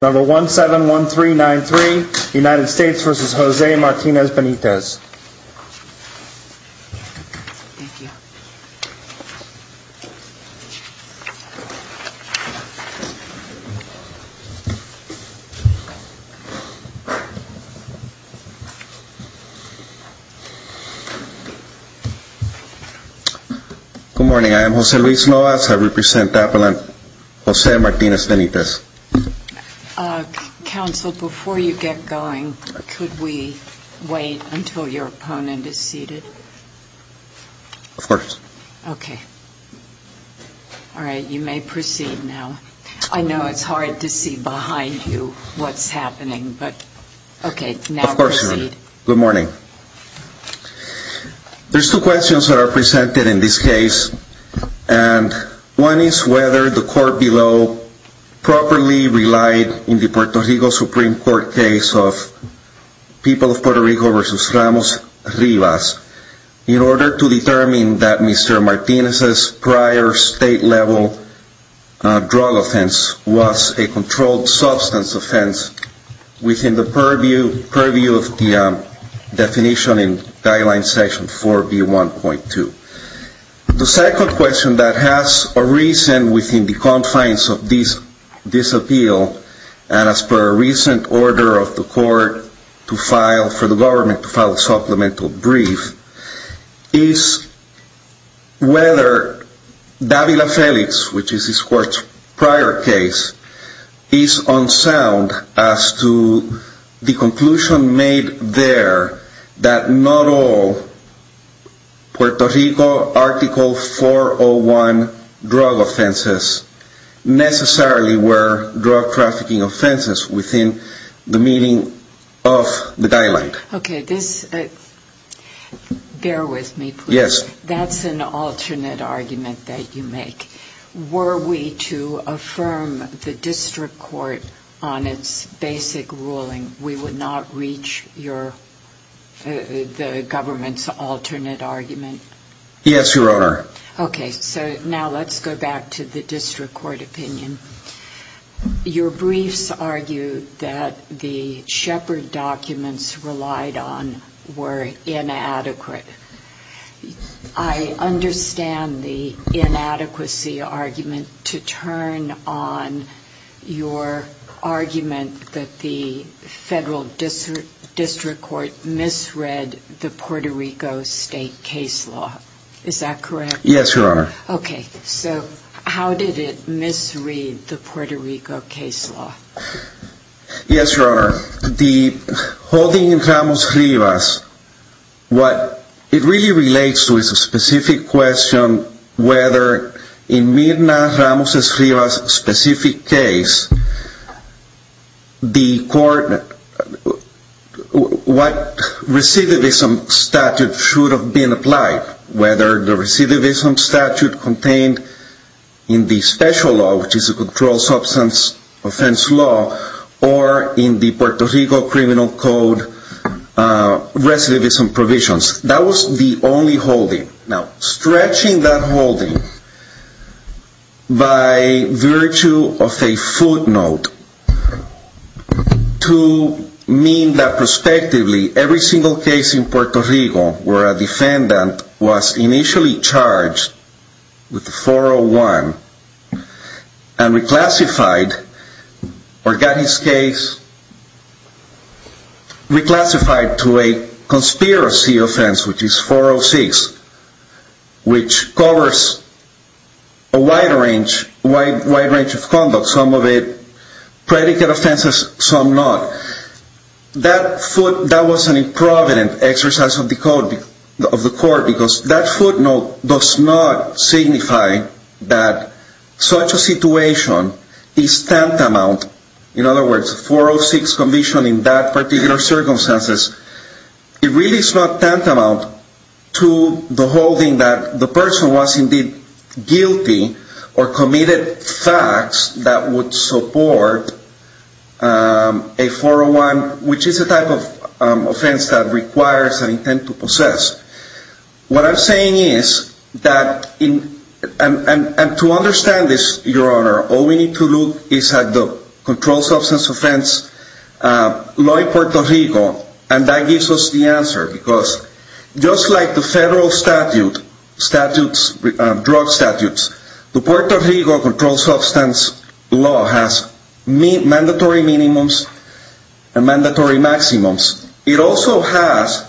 Number 171393 United States v. Jose Martinez-Benitez Good morning, I am Jose Luis Lovas, I represent Apple and Jose Martinez-Benitez Council, before you get going, could we wait until your opponent is seated? Of course. Okay. All right, you may proceed now. I know it's hard to see behind you what's happening, but okay, now proceed. Of course, Your Honor. Good morning. There's two questions that are presented in this case, and one is whether the court below properly relied in the Puerto Rico Supreme Court case of People of Puerto Rico v. Ramos-Rivas in order to determine that Mr. Martinez's prior state-level drug offense was a controlled definition in guideline section 4B1.2. The second question that has arisen within the confines of this appeal, and as per a recent order of the court to file, for the government to file a supplemental brief, is whether Davila-Felix, which is this court's prior case, is unsound as to the conclusion made there that not all Puerto Rico Article 401 drug offenses necessarily were drug trafficking offenses within the meaning of the guideline. Okay, this, bear with me, please. Yes. That's an alternate argument that you make. Were we to affirm the district court on its basic ruling, we would not reach the government's alternate argument? Yes, Your Honor. Okay, so now let's go back to the district court opinion. Your briefs argue that the I understand the inadequacy argument to turn on your argument that the federal district court misread the Puerto Rico state case law. Is that correct? Yes, Your Honor. Okay, so how did it misread the Puerto Rico case law? Yes, Your Honor. The holding in Ramos-Rivas, what it really relates to is a specific question whether in Mirna Ramos-Rivas' specific case, the court, what recidivism statute should have been applied, whether the recidivism statute contained in the special law, which is a controlled substance offense law, or in the Puerto Rico criminal code recidivism provisions. That was the only holding. Now, stretching that holding by virtue of a footnote to mean that prospectively every single case in Puerto Rico where a defendant was initially charged with 401 and reclassified or got his case reclassified to a conspiracy offense, which is 406, which covers a wide range of conduct, some of it predicate offenses, some not, that footnote was an improvident exercise of the court because that footnote does not signify that such a situation is tantamount. In other words, 406 conviction in that particular circumstances, it really is not tantamount to the holding that the person was indeed guilty or committed facts that would support a 401, which is a type of offense that requires an intent to possess. What I'm saying is that, and to understand this, your honor, all we need to look is at the controlled substance offense law in Puerto Rico, and that gives us the answer because just like the federal statute, drug statutes, the Puerto Rico controlled substance law has mandatory minimums and mandatory maximums. It also has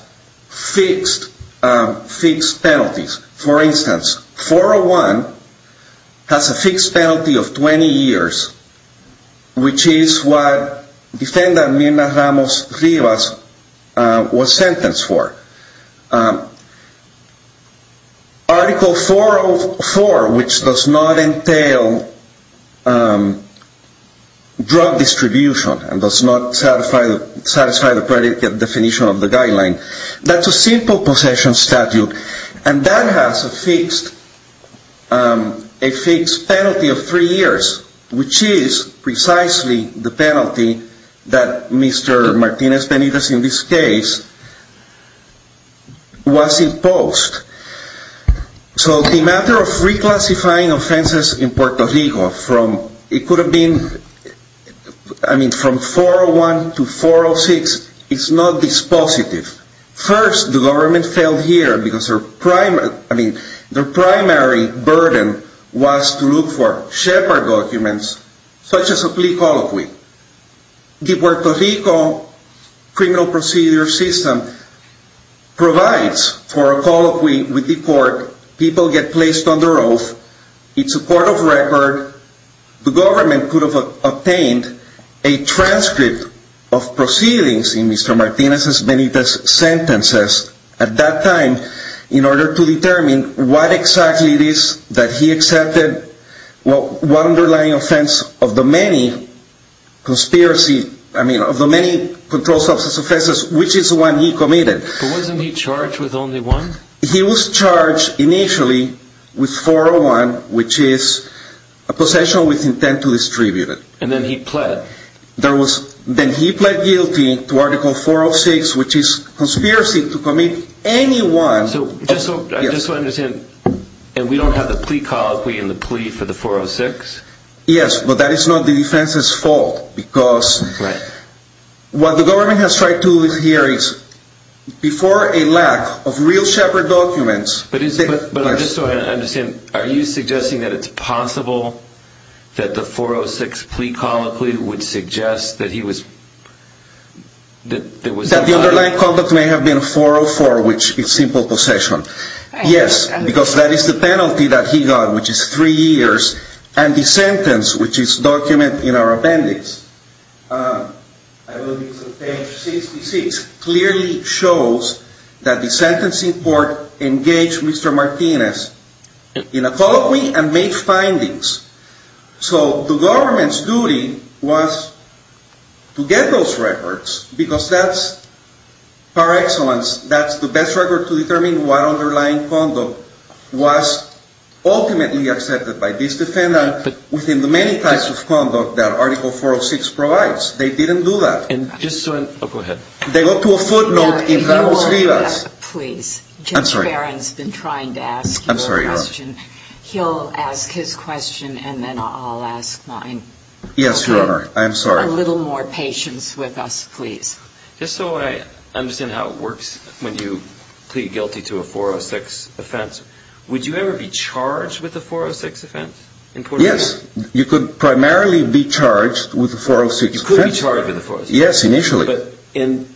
fixed penalties. For instance, 401 has a fixed penalty of 20 years, which is what defendant Amina Ramos Rivas was sentenced for. Article 404, which does not entail drug distribution and does not satisfy the predicate definition of the guideline, that's a simple possession statute, and that has a fixed penalty of three years, which is precisely the penalty that Mr. Martinez Benitez in this case was imposed. So the matter of reclassifying offenses in Puerto Rico from, it could have been, I mean from 401 to 406, it's not dispositive. First, the government failed here because their primary burden was to look for shepherd documents, such as a plea colloquy. The Puerto Rico criminal procedure system provides for a colloquy with the court. People get placed on their oath. It's a court of record. The government could have obtained a transcript of proceedings in Mr. Martinez Benitez's sentences at that time in order to determine what exactly it is that he accepted, what underlying offense of the many conspiracy, I mean of the many controlled substance offenses, which is the one he committed. But wasn't he charged with only one? He was charged initially with 401, which is a possession with intent to distribute it. And then he pled? Then he pled guilty to Article 406, which is conspiracy to commit anyone. So I just want to understand, and we don't have the plea colloquy and the plea for the 406? Yes, but that is not the defense's fault because what the government has tried to do here is, before a lack of real shepherd documents... But I'm just trying to understand, are you suggesting that it's possible that the 406 plea colloquy would suggest that he was... That the underlying conduct may have been 404, which is simple possession. Yes, because that is the penalty that he got, which is three years, and the sentence, which is documented in our sentencing court, engaged Mr. Martinez in a colloquy and made findings. So the government's duty was to get those records because that's par excellence, that's the best record to determine what underlying conduct was ultimately accepted by this defendant within the many types of conduct that Article 406 provides. They didn't do that. And just so... Oh, go ahead. They got to a footnote in Ramos-Rivas. Please. I'm sorry. Judge Barron's been trying to ask you a question. I'm sorry, Your Honor. He'll ask his question and then I'll ask mine. Yes, Your Honor. I'm sorry. A little more patience with us, please. Just so I understand how it works when you plead guilty to a 406 offense, would you ever be charged with a 406 offense? Yes, you could primarily be charged with a 406 offense. You could be charged with a 406 offense. Yes, initially. But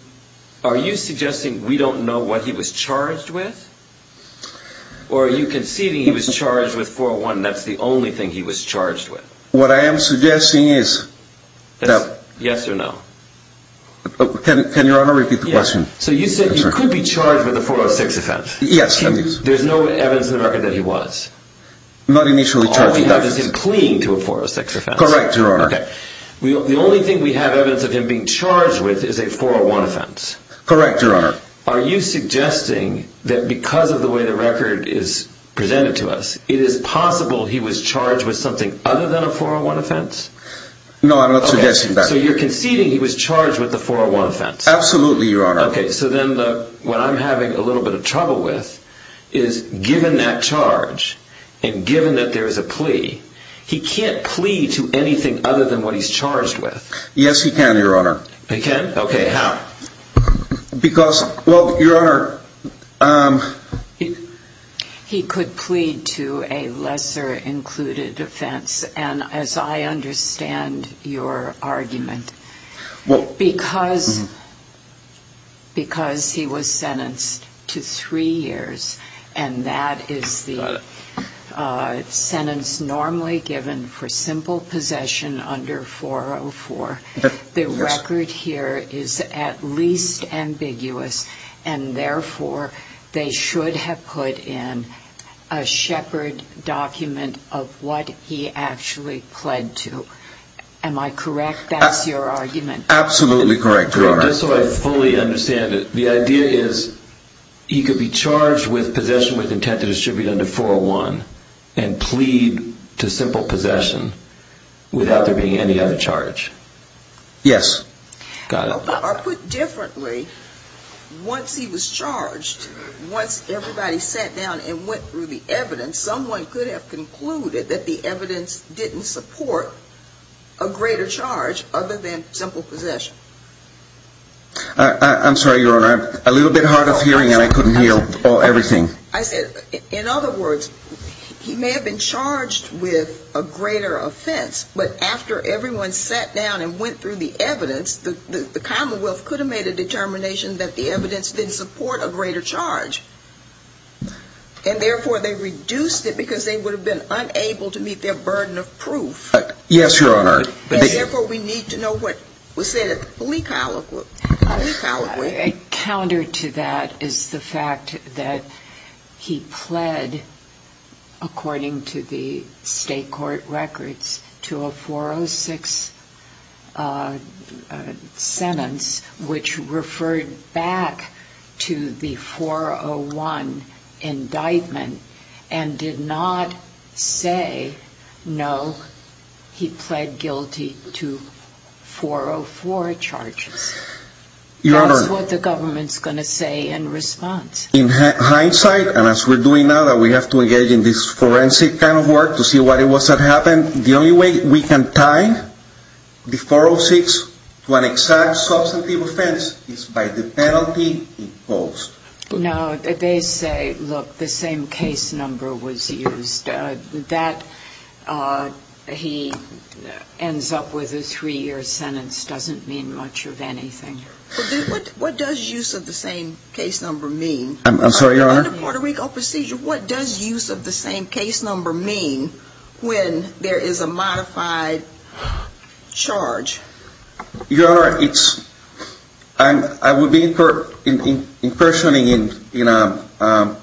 are you suggesting we don't know what he was charged with? Or are you conceding he was charged with 401 and that's the only thing he was charged with? What I am suggesting is that... Yes or no? Can Your Honor repeat the question? So you said he could be charged with a 406 offense? Yes, he is. There's no evidence in the record that he was? Not initially charged with that. All we have is him pleading to a 406 offense. Correct, Your Honor. The only thing we have evidence of him being charged with is a 401 offense. Correct, Your Honor. Are you suggesting that because of the way the record is presented to us, it is possible he was charged with something other than a 401 offense? No, I'm not suggesting that. So you're conceding he was charged with a 401 offense? Absolutely, Your Honor. Okay, so then what I'm having a little bit of trouble with is given that charge and given that there is a plea, he can't plea to anything other than what he's charged with? Yes, he can, Your Honor. He can? Okay, how? Because, well, Your Honor... He could plead to a lesser-included offense. And as I understand your argument, because he was sentenced to three years, and that is the sentence normally given for simple possession under 404, the record here is at least ambiguous, and therefore they should have put in a Shepard document of what he actually pled to. Am I correct? That's your argument? Absolutely correct, Your Honor. Just so I fully understand it, the idea is he could be charged with possession with intent to distribute under 401 and plead to simple possession without there being any other charge. Yes. Got it. Or put differently, once he was charged, once everybody sat down and went through the evidence, someone could have concluded that the evidence didn't support a greater charge other than simple possession. I'm sorry, Your Honor, I'm a little bit hard of hearing and I couldn't hear everything. I said, in other words, he may have been charged with a greater offense, but after everyone sat down and went through the evidence, the Commonwealth could have made a determination that the evidence didn't support a greater charge. And therefore they reduced it because they would have been unable to meet their burden of proof. Yes, Your Honor. And therefore we need to know what was said at the plea colloquy. Counter to that is the fact that he pled, according to the state court records, to a 406 sentence which referred back to the 401 indictment and did not say, no, he pled guilty to 404 charges. That's what the government's going to say in response. In hindsight, and as we're doing now that we have to engage in this forensic kind of work to see what it was that happened, the only way we can tie the 406 to an exact substantive offense is by the penalty imposed. No, they say, look, the same case number was used. That he ends up with a three-year sentence doesn't mean much of anything. What does use of the same case number mean? I'm sorry, Your Honor? Under Puerto Rico procedure, what does use of the same case number mean when there is a modified charge? Your Honor, it's, I would be impersonating in a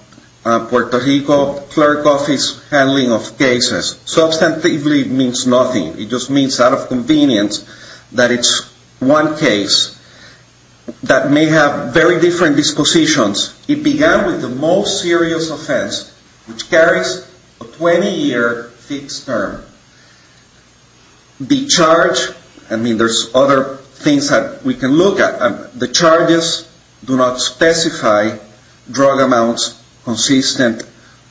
Puerto Rico clerk office handling of cases. Substantively means nothing. It just means out of convenience that it's one case that may have very different dispositions. It began with the most serious offense, which carries a 20-year fixed term. The charge, I mean, there's other things that we can look at. The charges do not specify drug amounts consistent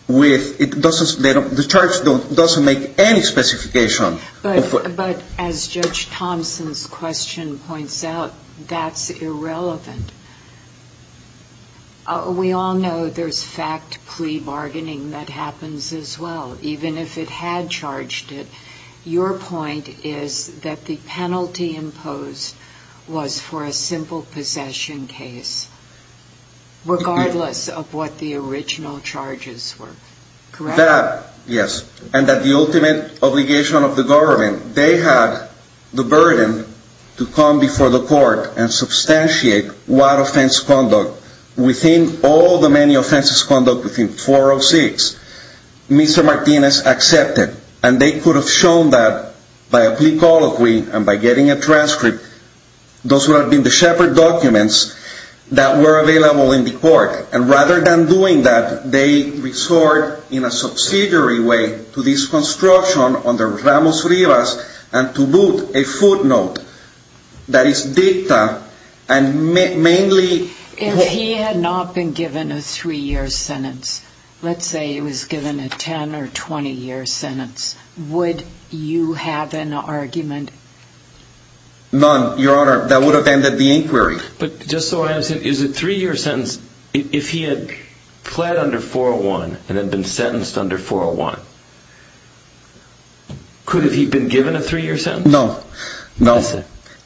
with, it doesn't, the charge doesn't make any specification. But as Judge Thompson's question points out, that's irrelevant. We all know there's fact plea bargaining that happens as well, even if it had charged it. Your point is that the penalty imposed was for a simple possession case, regardless of what the original charges were. Correct? That, yes. And that the ultimate obligation of the government, they had the burden to come before the court and substantiate what offense conduct, within all the many offenses conduct within 406, Mr. Martinez accepted. And they could have shown that by a plea colloquy and by getting a transcript, those would have been the shepherd documents that were available in the court. And rather than doing that, they resort in a subsidiary way to this construction under Ramos-Rivas, and to boot, a footnote that is dicta and mainly... If he had not been given a three-year sentence, let's say he was given a 10 or 20-year sentence, would you have an argument? None, Your Honor. That would have ended the inquiry. But just so I understand, is a three-year sentence... If he had pled under 401 and had been sentenced under 401, could he have been given a three-year sentence? No.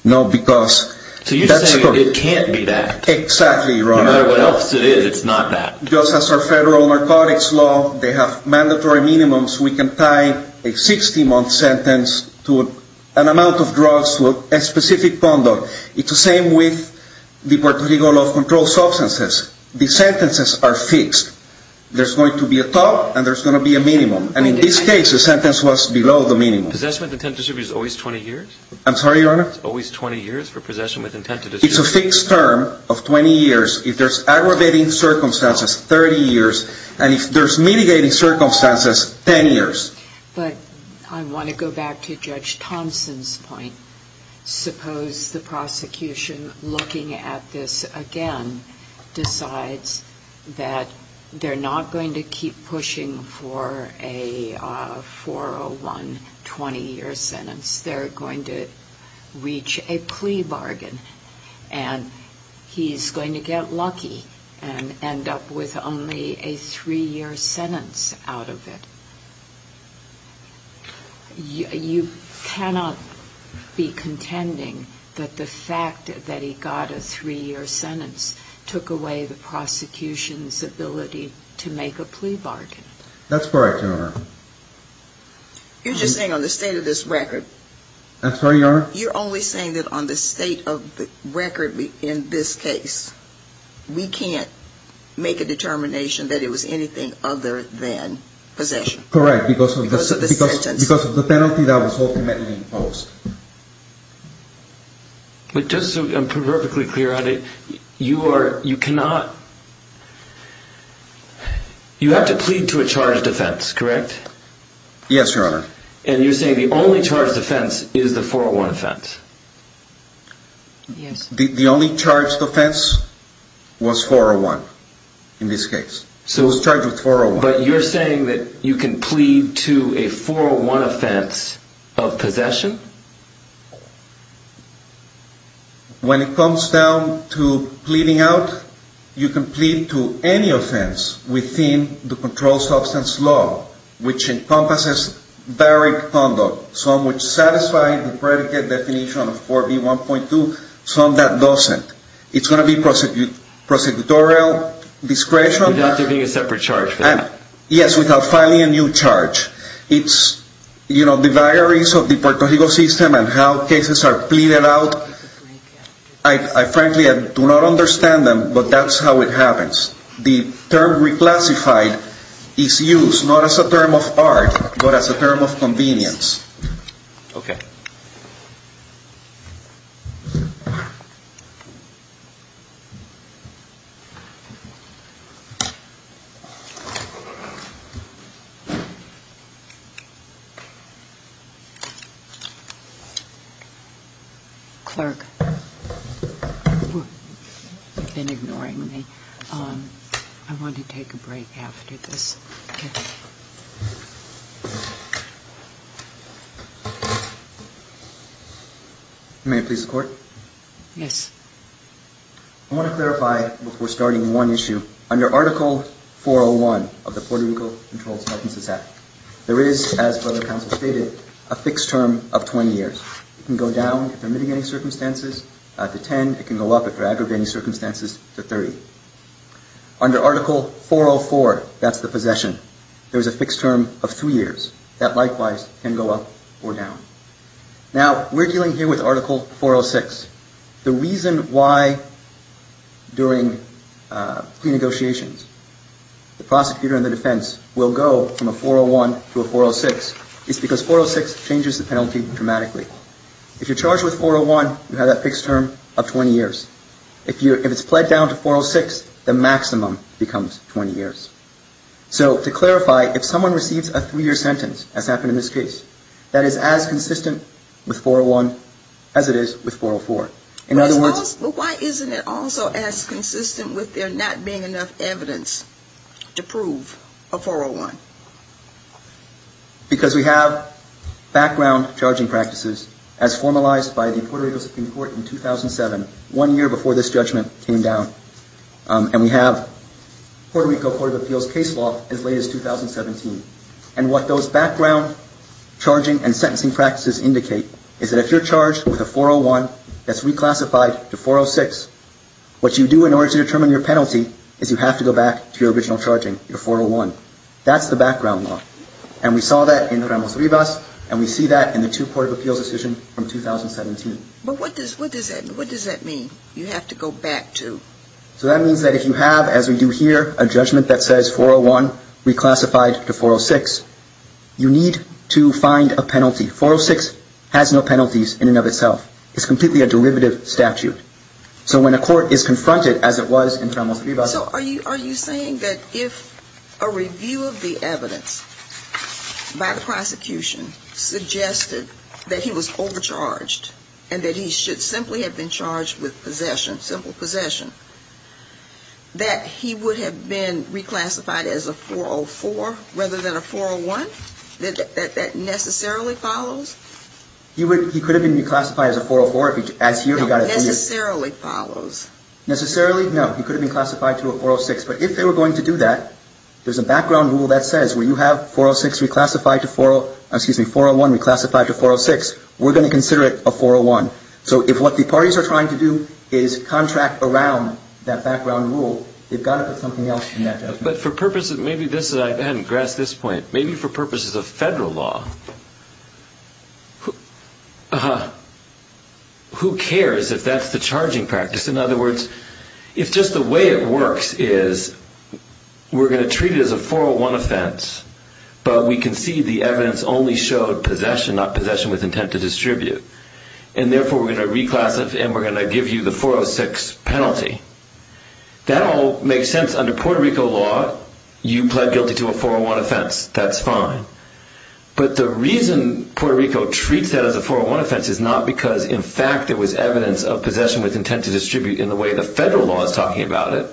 No, because... So you're saying it can't be that. Exactly, Your Honor. No matter what else it is, it's not that. Just as our federal narcotics law, they have mandatory minimums. We can tie a 60-month sentence to an amount of drugs to a specific conduct. It's the same with the particular law of controlled substances. The sentences are fixed. There's going to be a top, and there's going to be a minimum. And in this case, the sentence was below the minimum. Possession with intent to distribute is always 20 years? I'm sorry, Your Honor? It's always 20 years for possession with intent to distribute? It's a fixed term of 20 years. If there's aggravating circumstances, 30 years. And if there's mitigating circumstances, 10 years. But I want to go back to Judge Thompson's point. Suppose the prosecution, looking at this again, decides that they're not going to keep pushing for a 401 20-year sentence. They're going to reach a plea bargain. And he's going to get lucky and end up with only a three-year sentence out of it. You cannot be contending that the fact that he got a three-year sentence took away the prosecution's ability to make a plea bargain. That's correct, Your Honor. You're just saying on the state of this record. That's right, Your Honor. You're only saying that on the state of the record in this case, we can't make a determination that it was anything other than possession. Correct. Because of the sentence. Because of the penalty that was ultimately imposed. But just so I'm proverbically clear on it, you cannot. You have to plead to a charged offense, correct? Yes, Your Honor. And you're saying the only charged offense is the 401 offense. Yes. The only charged offense was 401 in this case. It was charged with 401. But you're saying that you can plead to a 401 offense of possession? When it comes down to pleading out, you can plead to any offense within the controlled substance law, which encompasses varied conduct. Some which satisfy the predicate definition of 4B1.2, some that doesn't. It's going to be prosecutorial discretion. Without giving a separate charge for that. Yes, without filing a new charge. It's, you know, the diaries of the Puerto Rico system and how cases are pleaded out. I frankly do not understand them, but that's how it happens. The term reclassified is used not as a term of art, but as a term of convenience. Okay. Clerk. You've been ignoring me. I want to take a break after this. May I please the Court? Yes. I want to clarify, before starting one issue, under Article 401 of the Puerto Rico Controlled Substances Act, there is, as Federal Counsel stated, a fixed term of 20 years. It can go down, if they're mitigating circumstances, to 10. It can go up, if they're aggravating circumstances, to 30. Under Article 404, that's the possession, there's a fixed term of three years. That, likewise, can go up or down. Now, we're dealing here with Article 406. The reason why, during pre-negotiations, the prosecutor and the defense will go from a 401 to a 406 is because 406 changes the penalty dramatically. If you're charged with 401, you have that fixed term of 20 years. If it's pled down to 406, the maximum becomes 20 years. So, to clarify, if someone receives a three-year sentence, as happened in this case, that is as consistent with 401 as it is with 404. In other words... But why isn't it also as consistent with there not being enough evidence to prove a 401? Because we have background charging practices, as formalized by the Puerto Rico Supreme Court in 2007, one year before this judgment came down. And we have Puerto Rico Court of Appeals case law as late as 2017. And what those background charging and sentencing practices indicate is that if you're charged with a 401 that's reclassified to 406, what you do in order to determine your penalty is you have to go back to your original charging, your 401. That's the background law. And we saw that in Ramos-Rivas, and we see that in the two Court of Appeals decisions from 2017. But what does that mean? You have to go back to... So that means that if you have, as we do here, a judgment that says 401 reclassified to 406, you need to find a penalty. 406 has no penalties in and of itself. It's completely a derivative statute. So when a court is confronted as it was in Ramos-Rivas... So are you saying that if a review of the evidence by the prosecution suggested that he was overcharged, and that he should simply have been charged with possession, simple possession, that he would have been reclassified as a 404 rather than a 401? That that necessarily follows? He could have been reclassified as a 404. Necessarily follows. Necessarily? No. He could have been classified to a 406. But if they were going to do that, there's a background rule that says, when you have 401 reclassified to 406, we're going to consider it a 401. So if what the parties are trying to do is contract around that background rule, they've got to put something else in that judgment. But for purposes... Maybe this is... I hadn't grasped this point. Maybe for purposes of federal law, who cares if that's the charging practice? In other words, if just the way it works is we're going to treat it as a 401 offense, but we concede the evidence only showed possession, not possession with intent to distribute, and therefore we're going to reclassify and we're going to give you the 406 penalty, that all makes sense under Puerto Rico law. You pled guilty to a 401 offense. That's fine. But the reason Puerto Rico treats that as a 401 offense is not because, in fact, it was evidence of possession with intent to distribute in the way the federal law is talking about it.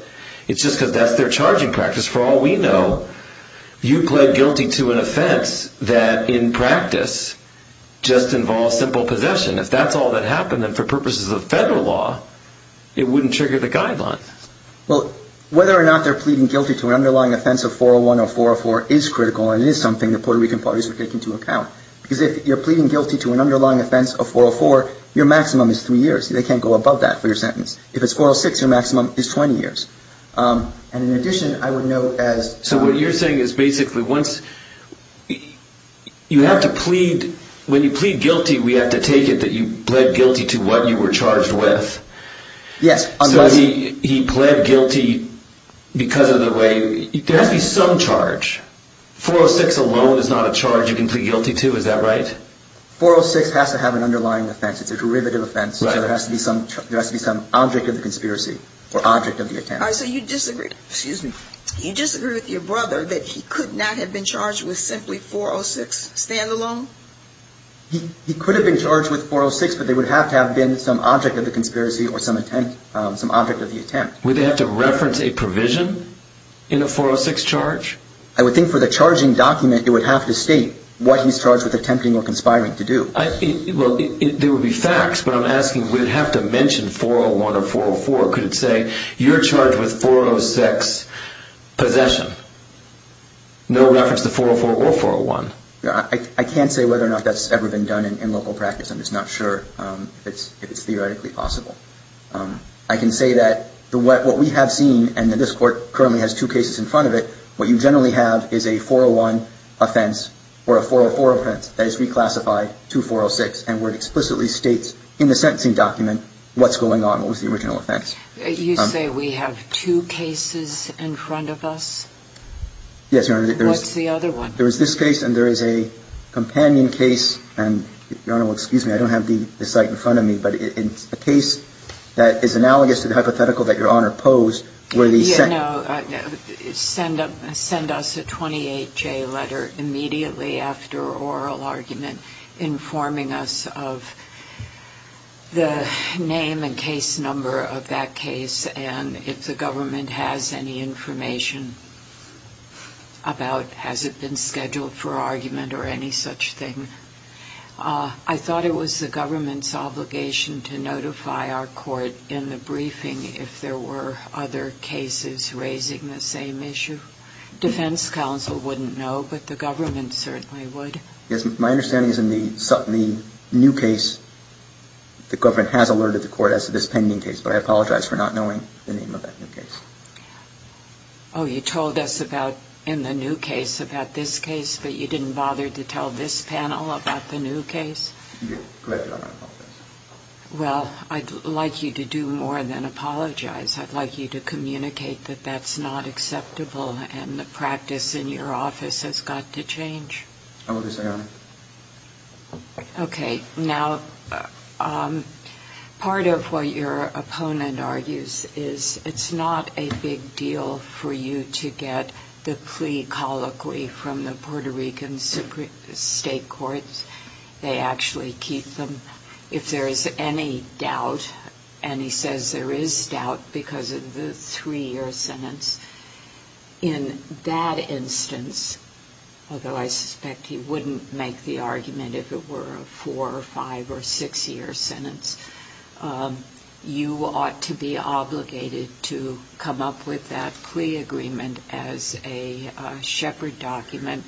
It's just because that's their charging practice. For all we know, you pled guilty to an offense that, in practice, just involves simple possession. If that's all that happened, then for purposes of federal law, it wouldn't trigger the guidelines. Well, whether or not they're pleading guilty to an underlying offense of 401 or 404 is critical, and it is something the Puerto Rican parties would take into account. Because if you're pleading guilty to an underlying offense of 404, your maximum is three years. They can't go above that for your sentence. If it's 406, your maximum is 20 years. And in addition, I would note as to what you're saying is basically once you have to plead, when you plead guilty, we have to take it that you pled guilty to what you were charged with. Yes. So he pled guilty because of the way, there has to be some charge. 406 alone is not a charge you can plead guilty to. Is that right? 406 has to have an underlying offense. It's a derivative offense. There has to be some object of the conspiracy or object of the attempt. All right. So you disagree with your brother that he could not have been charged with simply 406 stand-alone? He could have been charged with 406, but there would have to have been some object of the conspiracy or some object of the attempt. Would they have to reference a provision in a 406 charge? I would think for the charging document, it would have to state what he's charged with attempting or conspiring to do. Well, there would be facts, but I'm asking would it have to mention 401 or 404? Could it say you're charged with 406 possession, no reference to 404 or 401? I can't say whether or not that's ever been done in local practice. I'm just not sure if it's theoretically possible. I can say that what we have seen, and this Court currently has two cases in front of it, what you generally have is a 401 offense or a 404 offense that is reclassified to 406 and where it explicitly states in the sentencing document what's going on, what was the original offense. You say we have two cases in front of us? Yes, Your Honor. What's the other one? There is this case and there is a companion case. And, Your Honor, well, excuse me, I don't have the site in front of me, but it's a case that is analogous to the hypothetical that Your Honor posed where the sentence sent us a 28-J letter immediately after oral argument informing us of the name and case number of that case and if the government has any information about has it been scheduled for argument or any such thing. I thought it was the government's obligation to notify our court in the briefing if there were other cases raising the same issue. Defense counsel wouldn't know, but the government certainly would. Yes, my understanding is in the new case the government has alerted the court as to this pending case, but I apologize for not knowing the name of that new case. Oh, you told us about in the new case about this case, but you didn't bother to tell this panel about the new case? Correct, Your Honor, I apologize. Well, I'd like you to do more than apologize. I'd like you to communicate that that's not acceptable and the practice in your office has got to change. I will do so, Your Honor. Okay. Now, part of what your opponent argues is it's not a big deal for you to get the plea colloquy from the Puerto Rican state courts. They actually keep them if there is any doubt, and he says there is doubt because of the three-year sentence. In that instance, although I suspect he wouldn't make the argument if it were a four- or five- or six-year sentence, you ought to be obligated to come up with that plea agreement as a shepherd document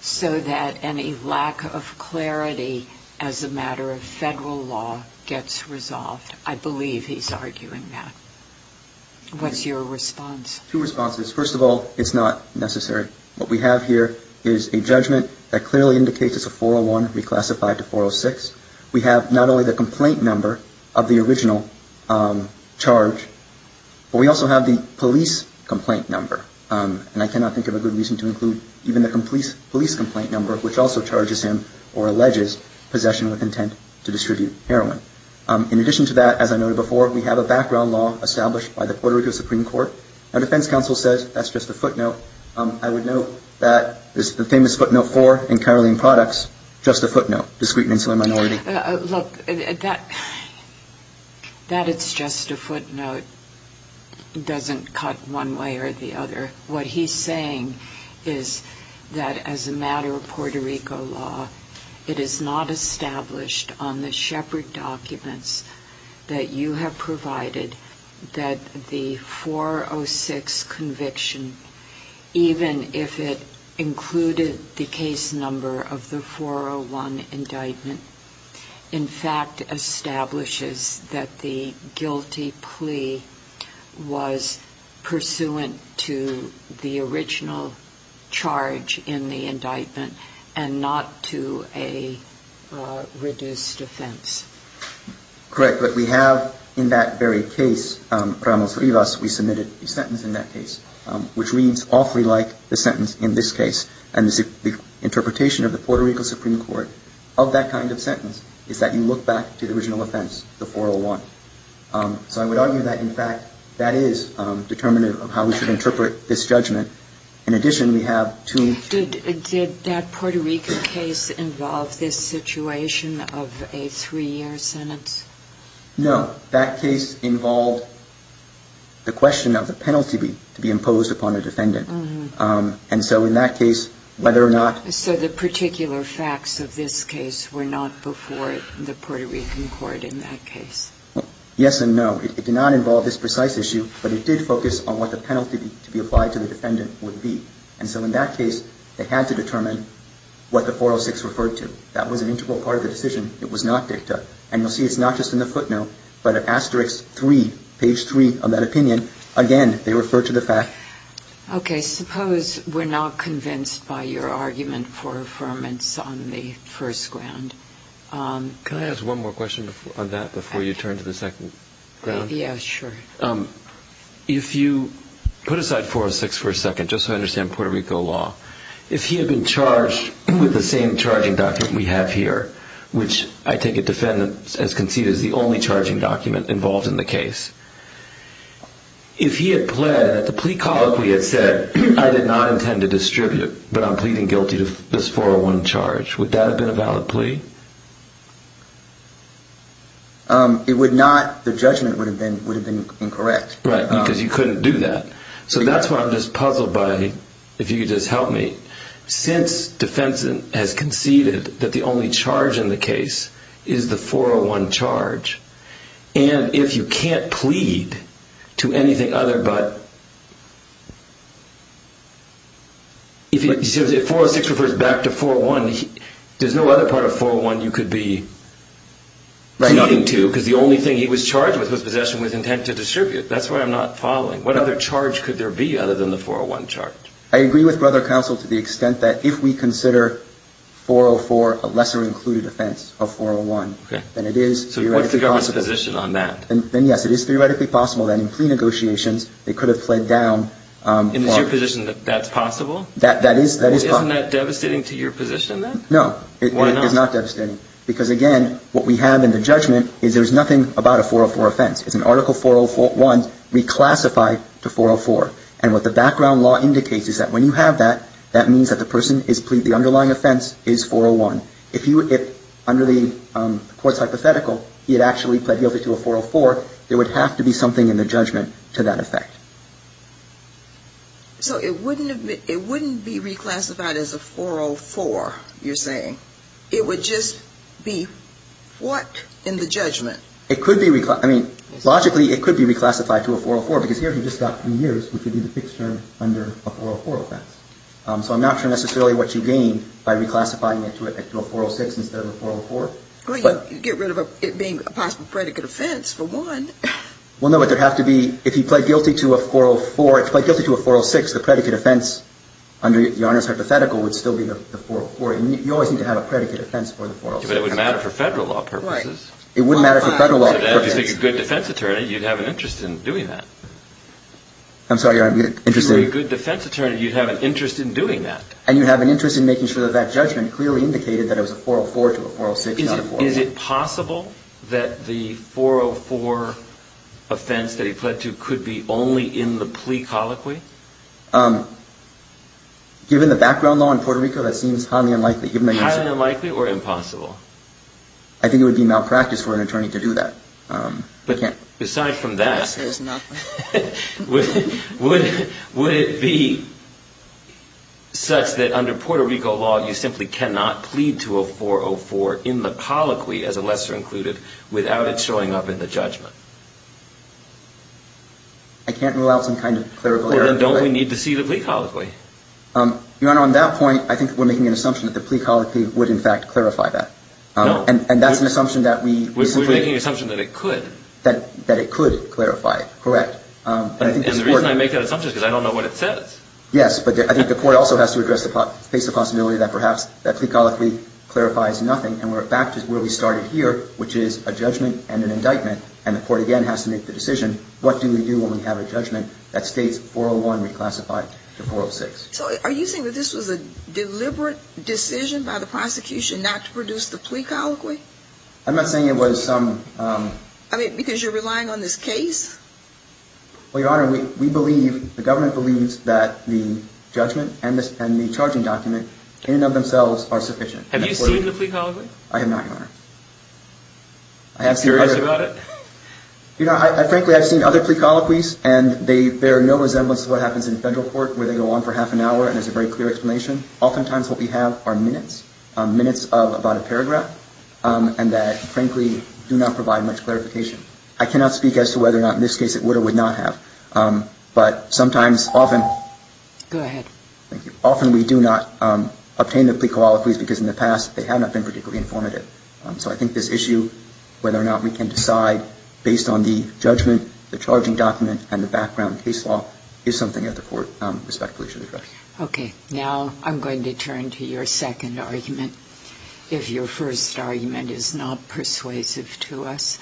so that any lack of clarity as a matter of federal law gets resolved. I believe he's arguing that. What's your response? Two responses. First of all, it's not necessary. What we have here is a judgment that clearly indicates it's a 401 reclassified to 406. We have not only the complaint number of the original charge, but we also have the police complaint number, and I cannot think of a good reason to include even the police complaint number, which also charges him or alleges possession with intent to distribute heroin. In addition to that, as I noted before, we have a background law established by the Puerto Rico Supreme Court. Our defense counsel says that's just a footnote. I would note that the famous footnote four in Caroline Products, just a footnote, discreet and insular minority. Look, that it's just a footnote doesn't cut one way or the other. What he's saying is that as a matter of Puerto Rico law, it is not established on the shepherd documents that you have provided that the 406 conviction, even if it included the case number of the 401 indictment, in fact establishes that the guilty plea was pursuant to the original charge in the indictment and not to a reduced offense. Correct. But we have in that very case, Ramos-Rivas, we submitted a sentence in that case, which reads awfully like the sentence in this case. And the interpretation of the Puerto Rico Supreme Court of that kind of sentence is that you look back to the original offense, the 401. So I would argue that, in fact, that is determinative of how we should interpret this judgment. In addition, we have two. Did that Puerto Rico case involve this situation of a three-year sentence? No. That case involved the question of the penalty to be imposed upon a defendant. And so in that case, whether or not. So the particular facts of this case were not before the Puerto Rican court in that case. Yes and no. It did not involve this precise issue, but it did focus on what the penalty to be applied to the defendant would be. And so in that case, they had to determine what the 406 referred to. That was an integral part of the decision. It was not dicta. And you'll see it's not just in the footnote, but in Asterix 3, page 3 of that opinion, again, they refer to the fact. Okay. Suppose we're not convinced by your argument for affirmance on the first ground. Can I ask one more question on that before you turn to the second ground? Yeah, sure. If you put aside 406 for a second, just so I understand Puerto Rico law, if he had been charged with the same charging document we have here, which I take it defendants as conceded is the only charging document involved in the case, if he had pled that the plea colloquy had said, I did not intend to distribute, but I'm pleading guilty to this 401 charge, would that have been a valid plea? It would not. The judgment would have been incorrect. Right, because you couldn't do that. So that's why I'm just puzzled by, if you could just help me, since defense has conceded that the only charge in the case is the 401 charge, and if you can't plead to anything other but, if 406 refers back to 401, there's no other part of 401 you could be nodding to, because the only thing he was charged with was possession with intent to distribute. That's why I'm not following. What other charge could there be other than the 401 charge? I agree with Brother Counsel to the extent that if we consider 404 a lesser included offense of 401, then it is theoretically possible. So what's the government's position on that? Then, yes, it is theoretically possible that in plea negotiations they could have pled down. And is your position that that's possible? That is possible. Isn't that devastating to your position, then? No, it is not devastating. Why not? Because, again, what we have in the judgment is there's nothing about a 404 offense. It's an Article 401 reclassified to 404. And what the background law indicates is that when you have that, that means that the person is pleading the underlying offense is 401. If under the court's hypothetical he had actually pled guilty to a 404, there would have to be something in the judgment to that effect. So it wouldn't be reclassified as a 404, you're saying. It would just be what in the judgment? It could be reclassified. I mean, logically it could be reclassified to a 404 because here you've just got three years, which would be the fixed term under a 404 offense. So I'm not sure necessarily what you gain by reclassifying it to a 406 instead of a 404. Well, you get rid of it being a possible predicate offense, for one. Well, no, but there would have to be, if he pled guilty to a 404, if he pled guilty to a 406, the predicate offense under your Honor's hypothetical would still be the 404. You always need to have a predicate offense for the 406. But it would matter for Federal law purposes. It would matter for Federal law purposes. If you're a good defense attorney, you'd have an interest in doing that. I'm sorry, Your Honor, I'm interested. If you're a good defense attorney, you'd have an interest in doing that. And you'd have an interest in making sure that that judgment clearly indicated that it was a 404 to a 406, not a 404. Is it possible that the 404 offense that he pled to could be only in the plea colloquy? Given the background law in Puerto Rico, that seems highly unlikely. Highly unlikely or impossible? I think it would be malpractice for an attorney to do that. But aside from that, would it be such that under Puerto Rico law, you simply cannot plead to a 404 in the colloquy, as a lesser included, without it showing up in the judgment? I can't rule out some kind of clarification. Well, then don't we need to see the plea colloquy? Your Honor, on that point, I think we're making an assumption that the plea colloquy would, in fact, clarify that. No. And that's an assumption that we simply – We're making an assumption that it could. That it could clarify it, correct. And the reason I make that assumption is because I don't know what it says. Yes, but I think the court also has to face the possibility that perhaps that plea colloquy clarifies nothing. And we're back to where we started here, which is a judgment and an indictment. And the court, again, has to make the decision, what do we do when we have a judgment that states 401 reclassified to 406? So are you saying that this was a deliberate decision by the prosecution not to produce the plea colloquy? I'm not saying it was some – I mean, because you're relying on this case? Well, Your Honor, we believe – the government believes that the judgment and the charging document in and of themselves are sufficient. Have you seen the plea colloquy? I have not, Your Honor. Are you curious about it? You know, frankly, I've seen other plea colloquies, and they bear no resemblance to what happens in a federal court where they go on for half an hour and there's a very clear explanation. Oftentimes what we have are minutes, minutes of about a paragraph, and that, frankly, do not provide much clarification. I cannot speak as to whether or not in this case it would or would not have. But sometimes, often – Go ahead. Thank you. Often we do not obtain the plea colloquies because in the past they have not been particularly informative. So I think this issue, whether or not we can decide based on the judgment, the charging document, and the background case law, is something that the court respectfully should address. Okay. Now I'm going to turn to your second argument. If your first argument is not persuasive to us,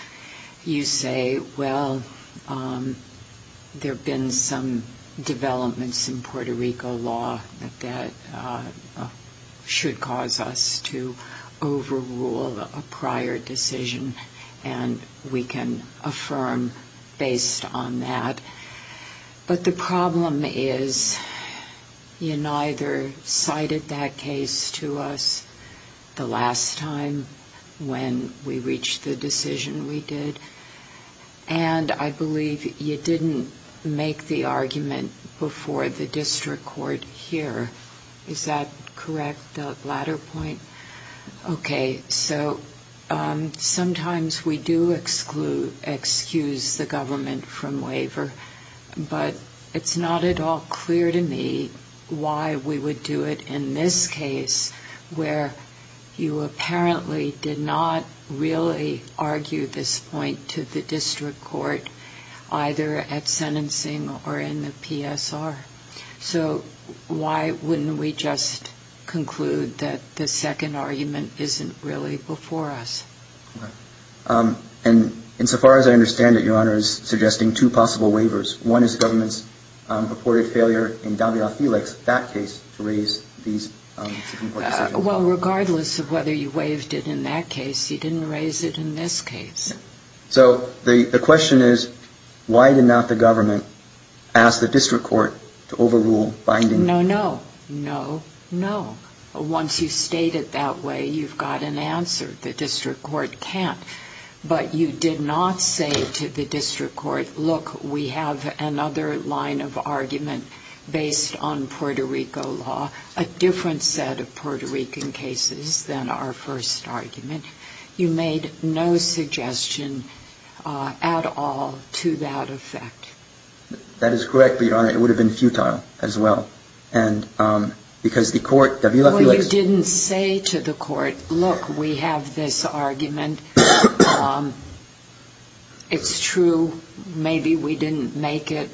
you say, well, there have been some developments in Puerto Rico law that should cause us to overrule a prior decision, and we can affirm based on that. But the problem is you neither cited that case to us the last time when we reached the decision we did, and I believe you didn't make the argument before the district court here. Is that correct, that latter point? Okay. So sometimes we do excuse the government from waiver, but it's not at all clear to me why we would do it in this case where you apparently did not really argue this point to the district court, either at sentencing or in the PSR. So why wouldn't we just conclude that the second argument isn't really before us? Okay. And insofar as I understand it, Your Honor, is suggesting two possible waivers. One is the government's purported failure in Davila-Felix, that case, to raise these two important points. Well, regardless of whether you waived it in that case, you didn't raise it in this case. So the question is why did not the government ask the district court to overrule binding? No, no, no, no. Once you state it that way, you've got an answer. The district court can't. But you did not say to the district court, look, we have another line of argument based on Puerto Rico law, a different set of Puerto Rican cases than our first argument. You made no suggestion at all to that effect. That is correct, but, Your Honor, it would have been futile as well. And because the court, Davila-Felix. Well, you didn't say to the court, look, we have this argument. It's true. Maybe we didn't make it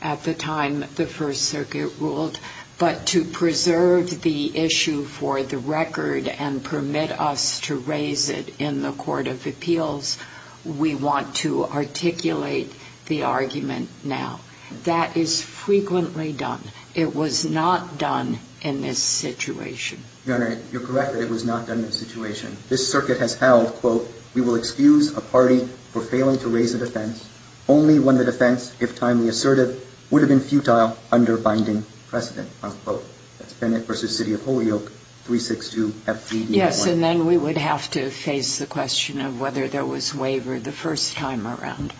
at the time the First Circuit ruled. But to preserve the issue for the record and permit us to raise it in the Court of Appeals, we want to articulate the argument now. That is frequently done. It was not done in this situation. Your Honor, you're correct that it was not done in this situation. This circuit has held, quote, we will excuse a party for failing to raise a defense only when the defense, if timely assertive, would have been futile under binding precedent, unquote. That's Bennett v. City of Holyoke, 362-F3-D1. Yes, and then we would have to face the question of whether there was waiver the first time around.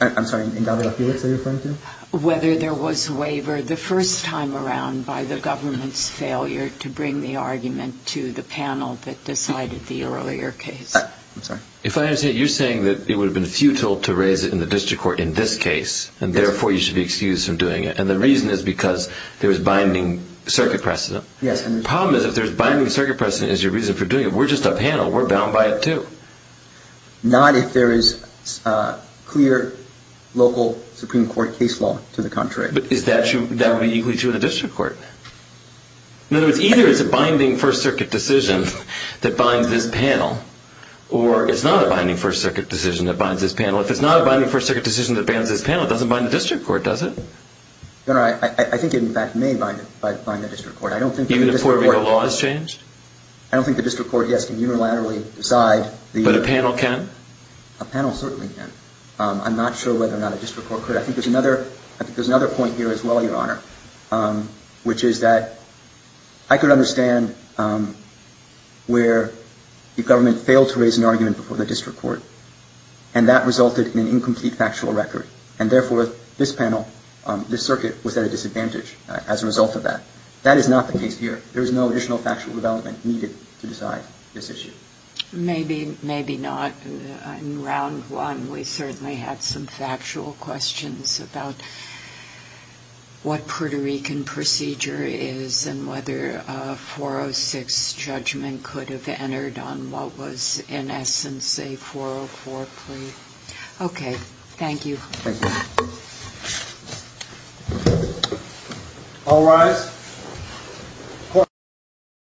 I'm sorry, in Davila-Felix are you referring to? Whether there was waiver the first time around by the government's failure to bring the argument to the panel that decided the earlier case. I'm sorry. If I understand it, you're saying that it would have been futile to raise it in the district court in this case, and therefore you should be excused from doing it. And the reason is because there is binding circuit precedent. Yes. The problem is if there's binding circuit precedent as your reason for doing it, we're just a panel. We're bound by it too. Not if there is clear local Supreme Court case law. To the contrary. But is that true? That would be equally true in the district court. In other words, either it's a binding First Circuit decision that binds this panel or it's not a binding First Circuit decision that binds this panel. If it's not a binding First Circuit decision that binds this panel, it doesn't bind the district court, does it? Your Honor, I think it in fact may bind the district court. Even if Puerto Rico law has changed? I don't think the district court, yes, can unilaterally decide. But a panel can? A panel certainly can. I'm not sure whether or not a district court could. I think there's another point here as well, Your Honor, which is that I could understand where the government failed to raise an argument before the district court. And that resulted in an incomplete factual record. And therefore, this panel, this circuit was at a disadvantage as a result of that. That is not the case here. There is no additional factual development needed to decide this issue. Maybe, maybe not. In round one, we certainly had some factual questions about what Puerto Rican procedure is and whether a 406 judgment could have entered on what was in essence a 404 plea. Okay. Thank you. Thank you. All rise.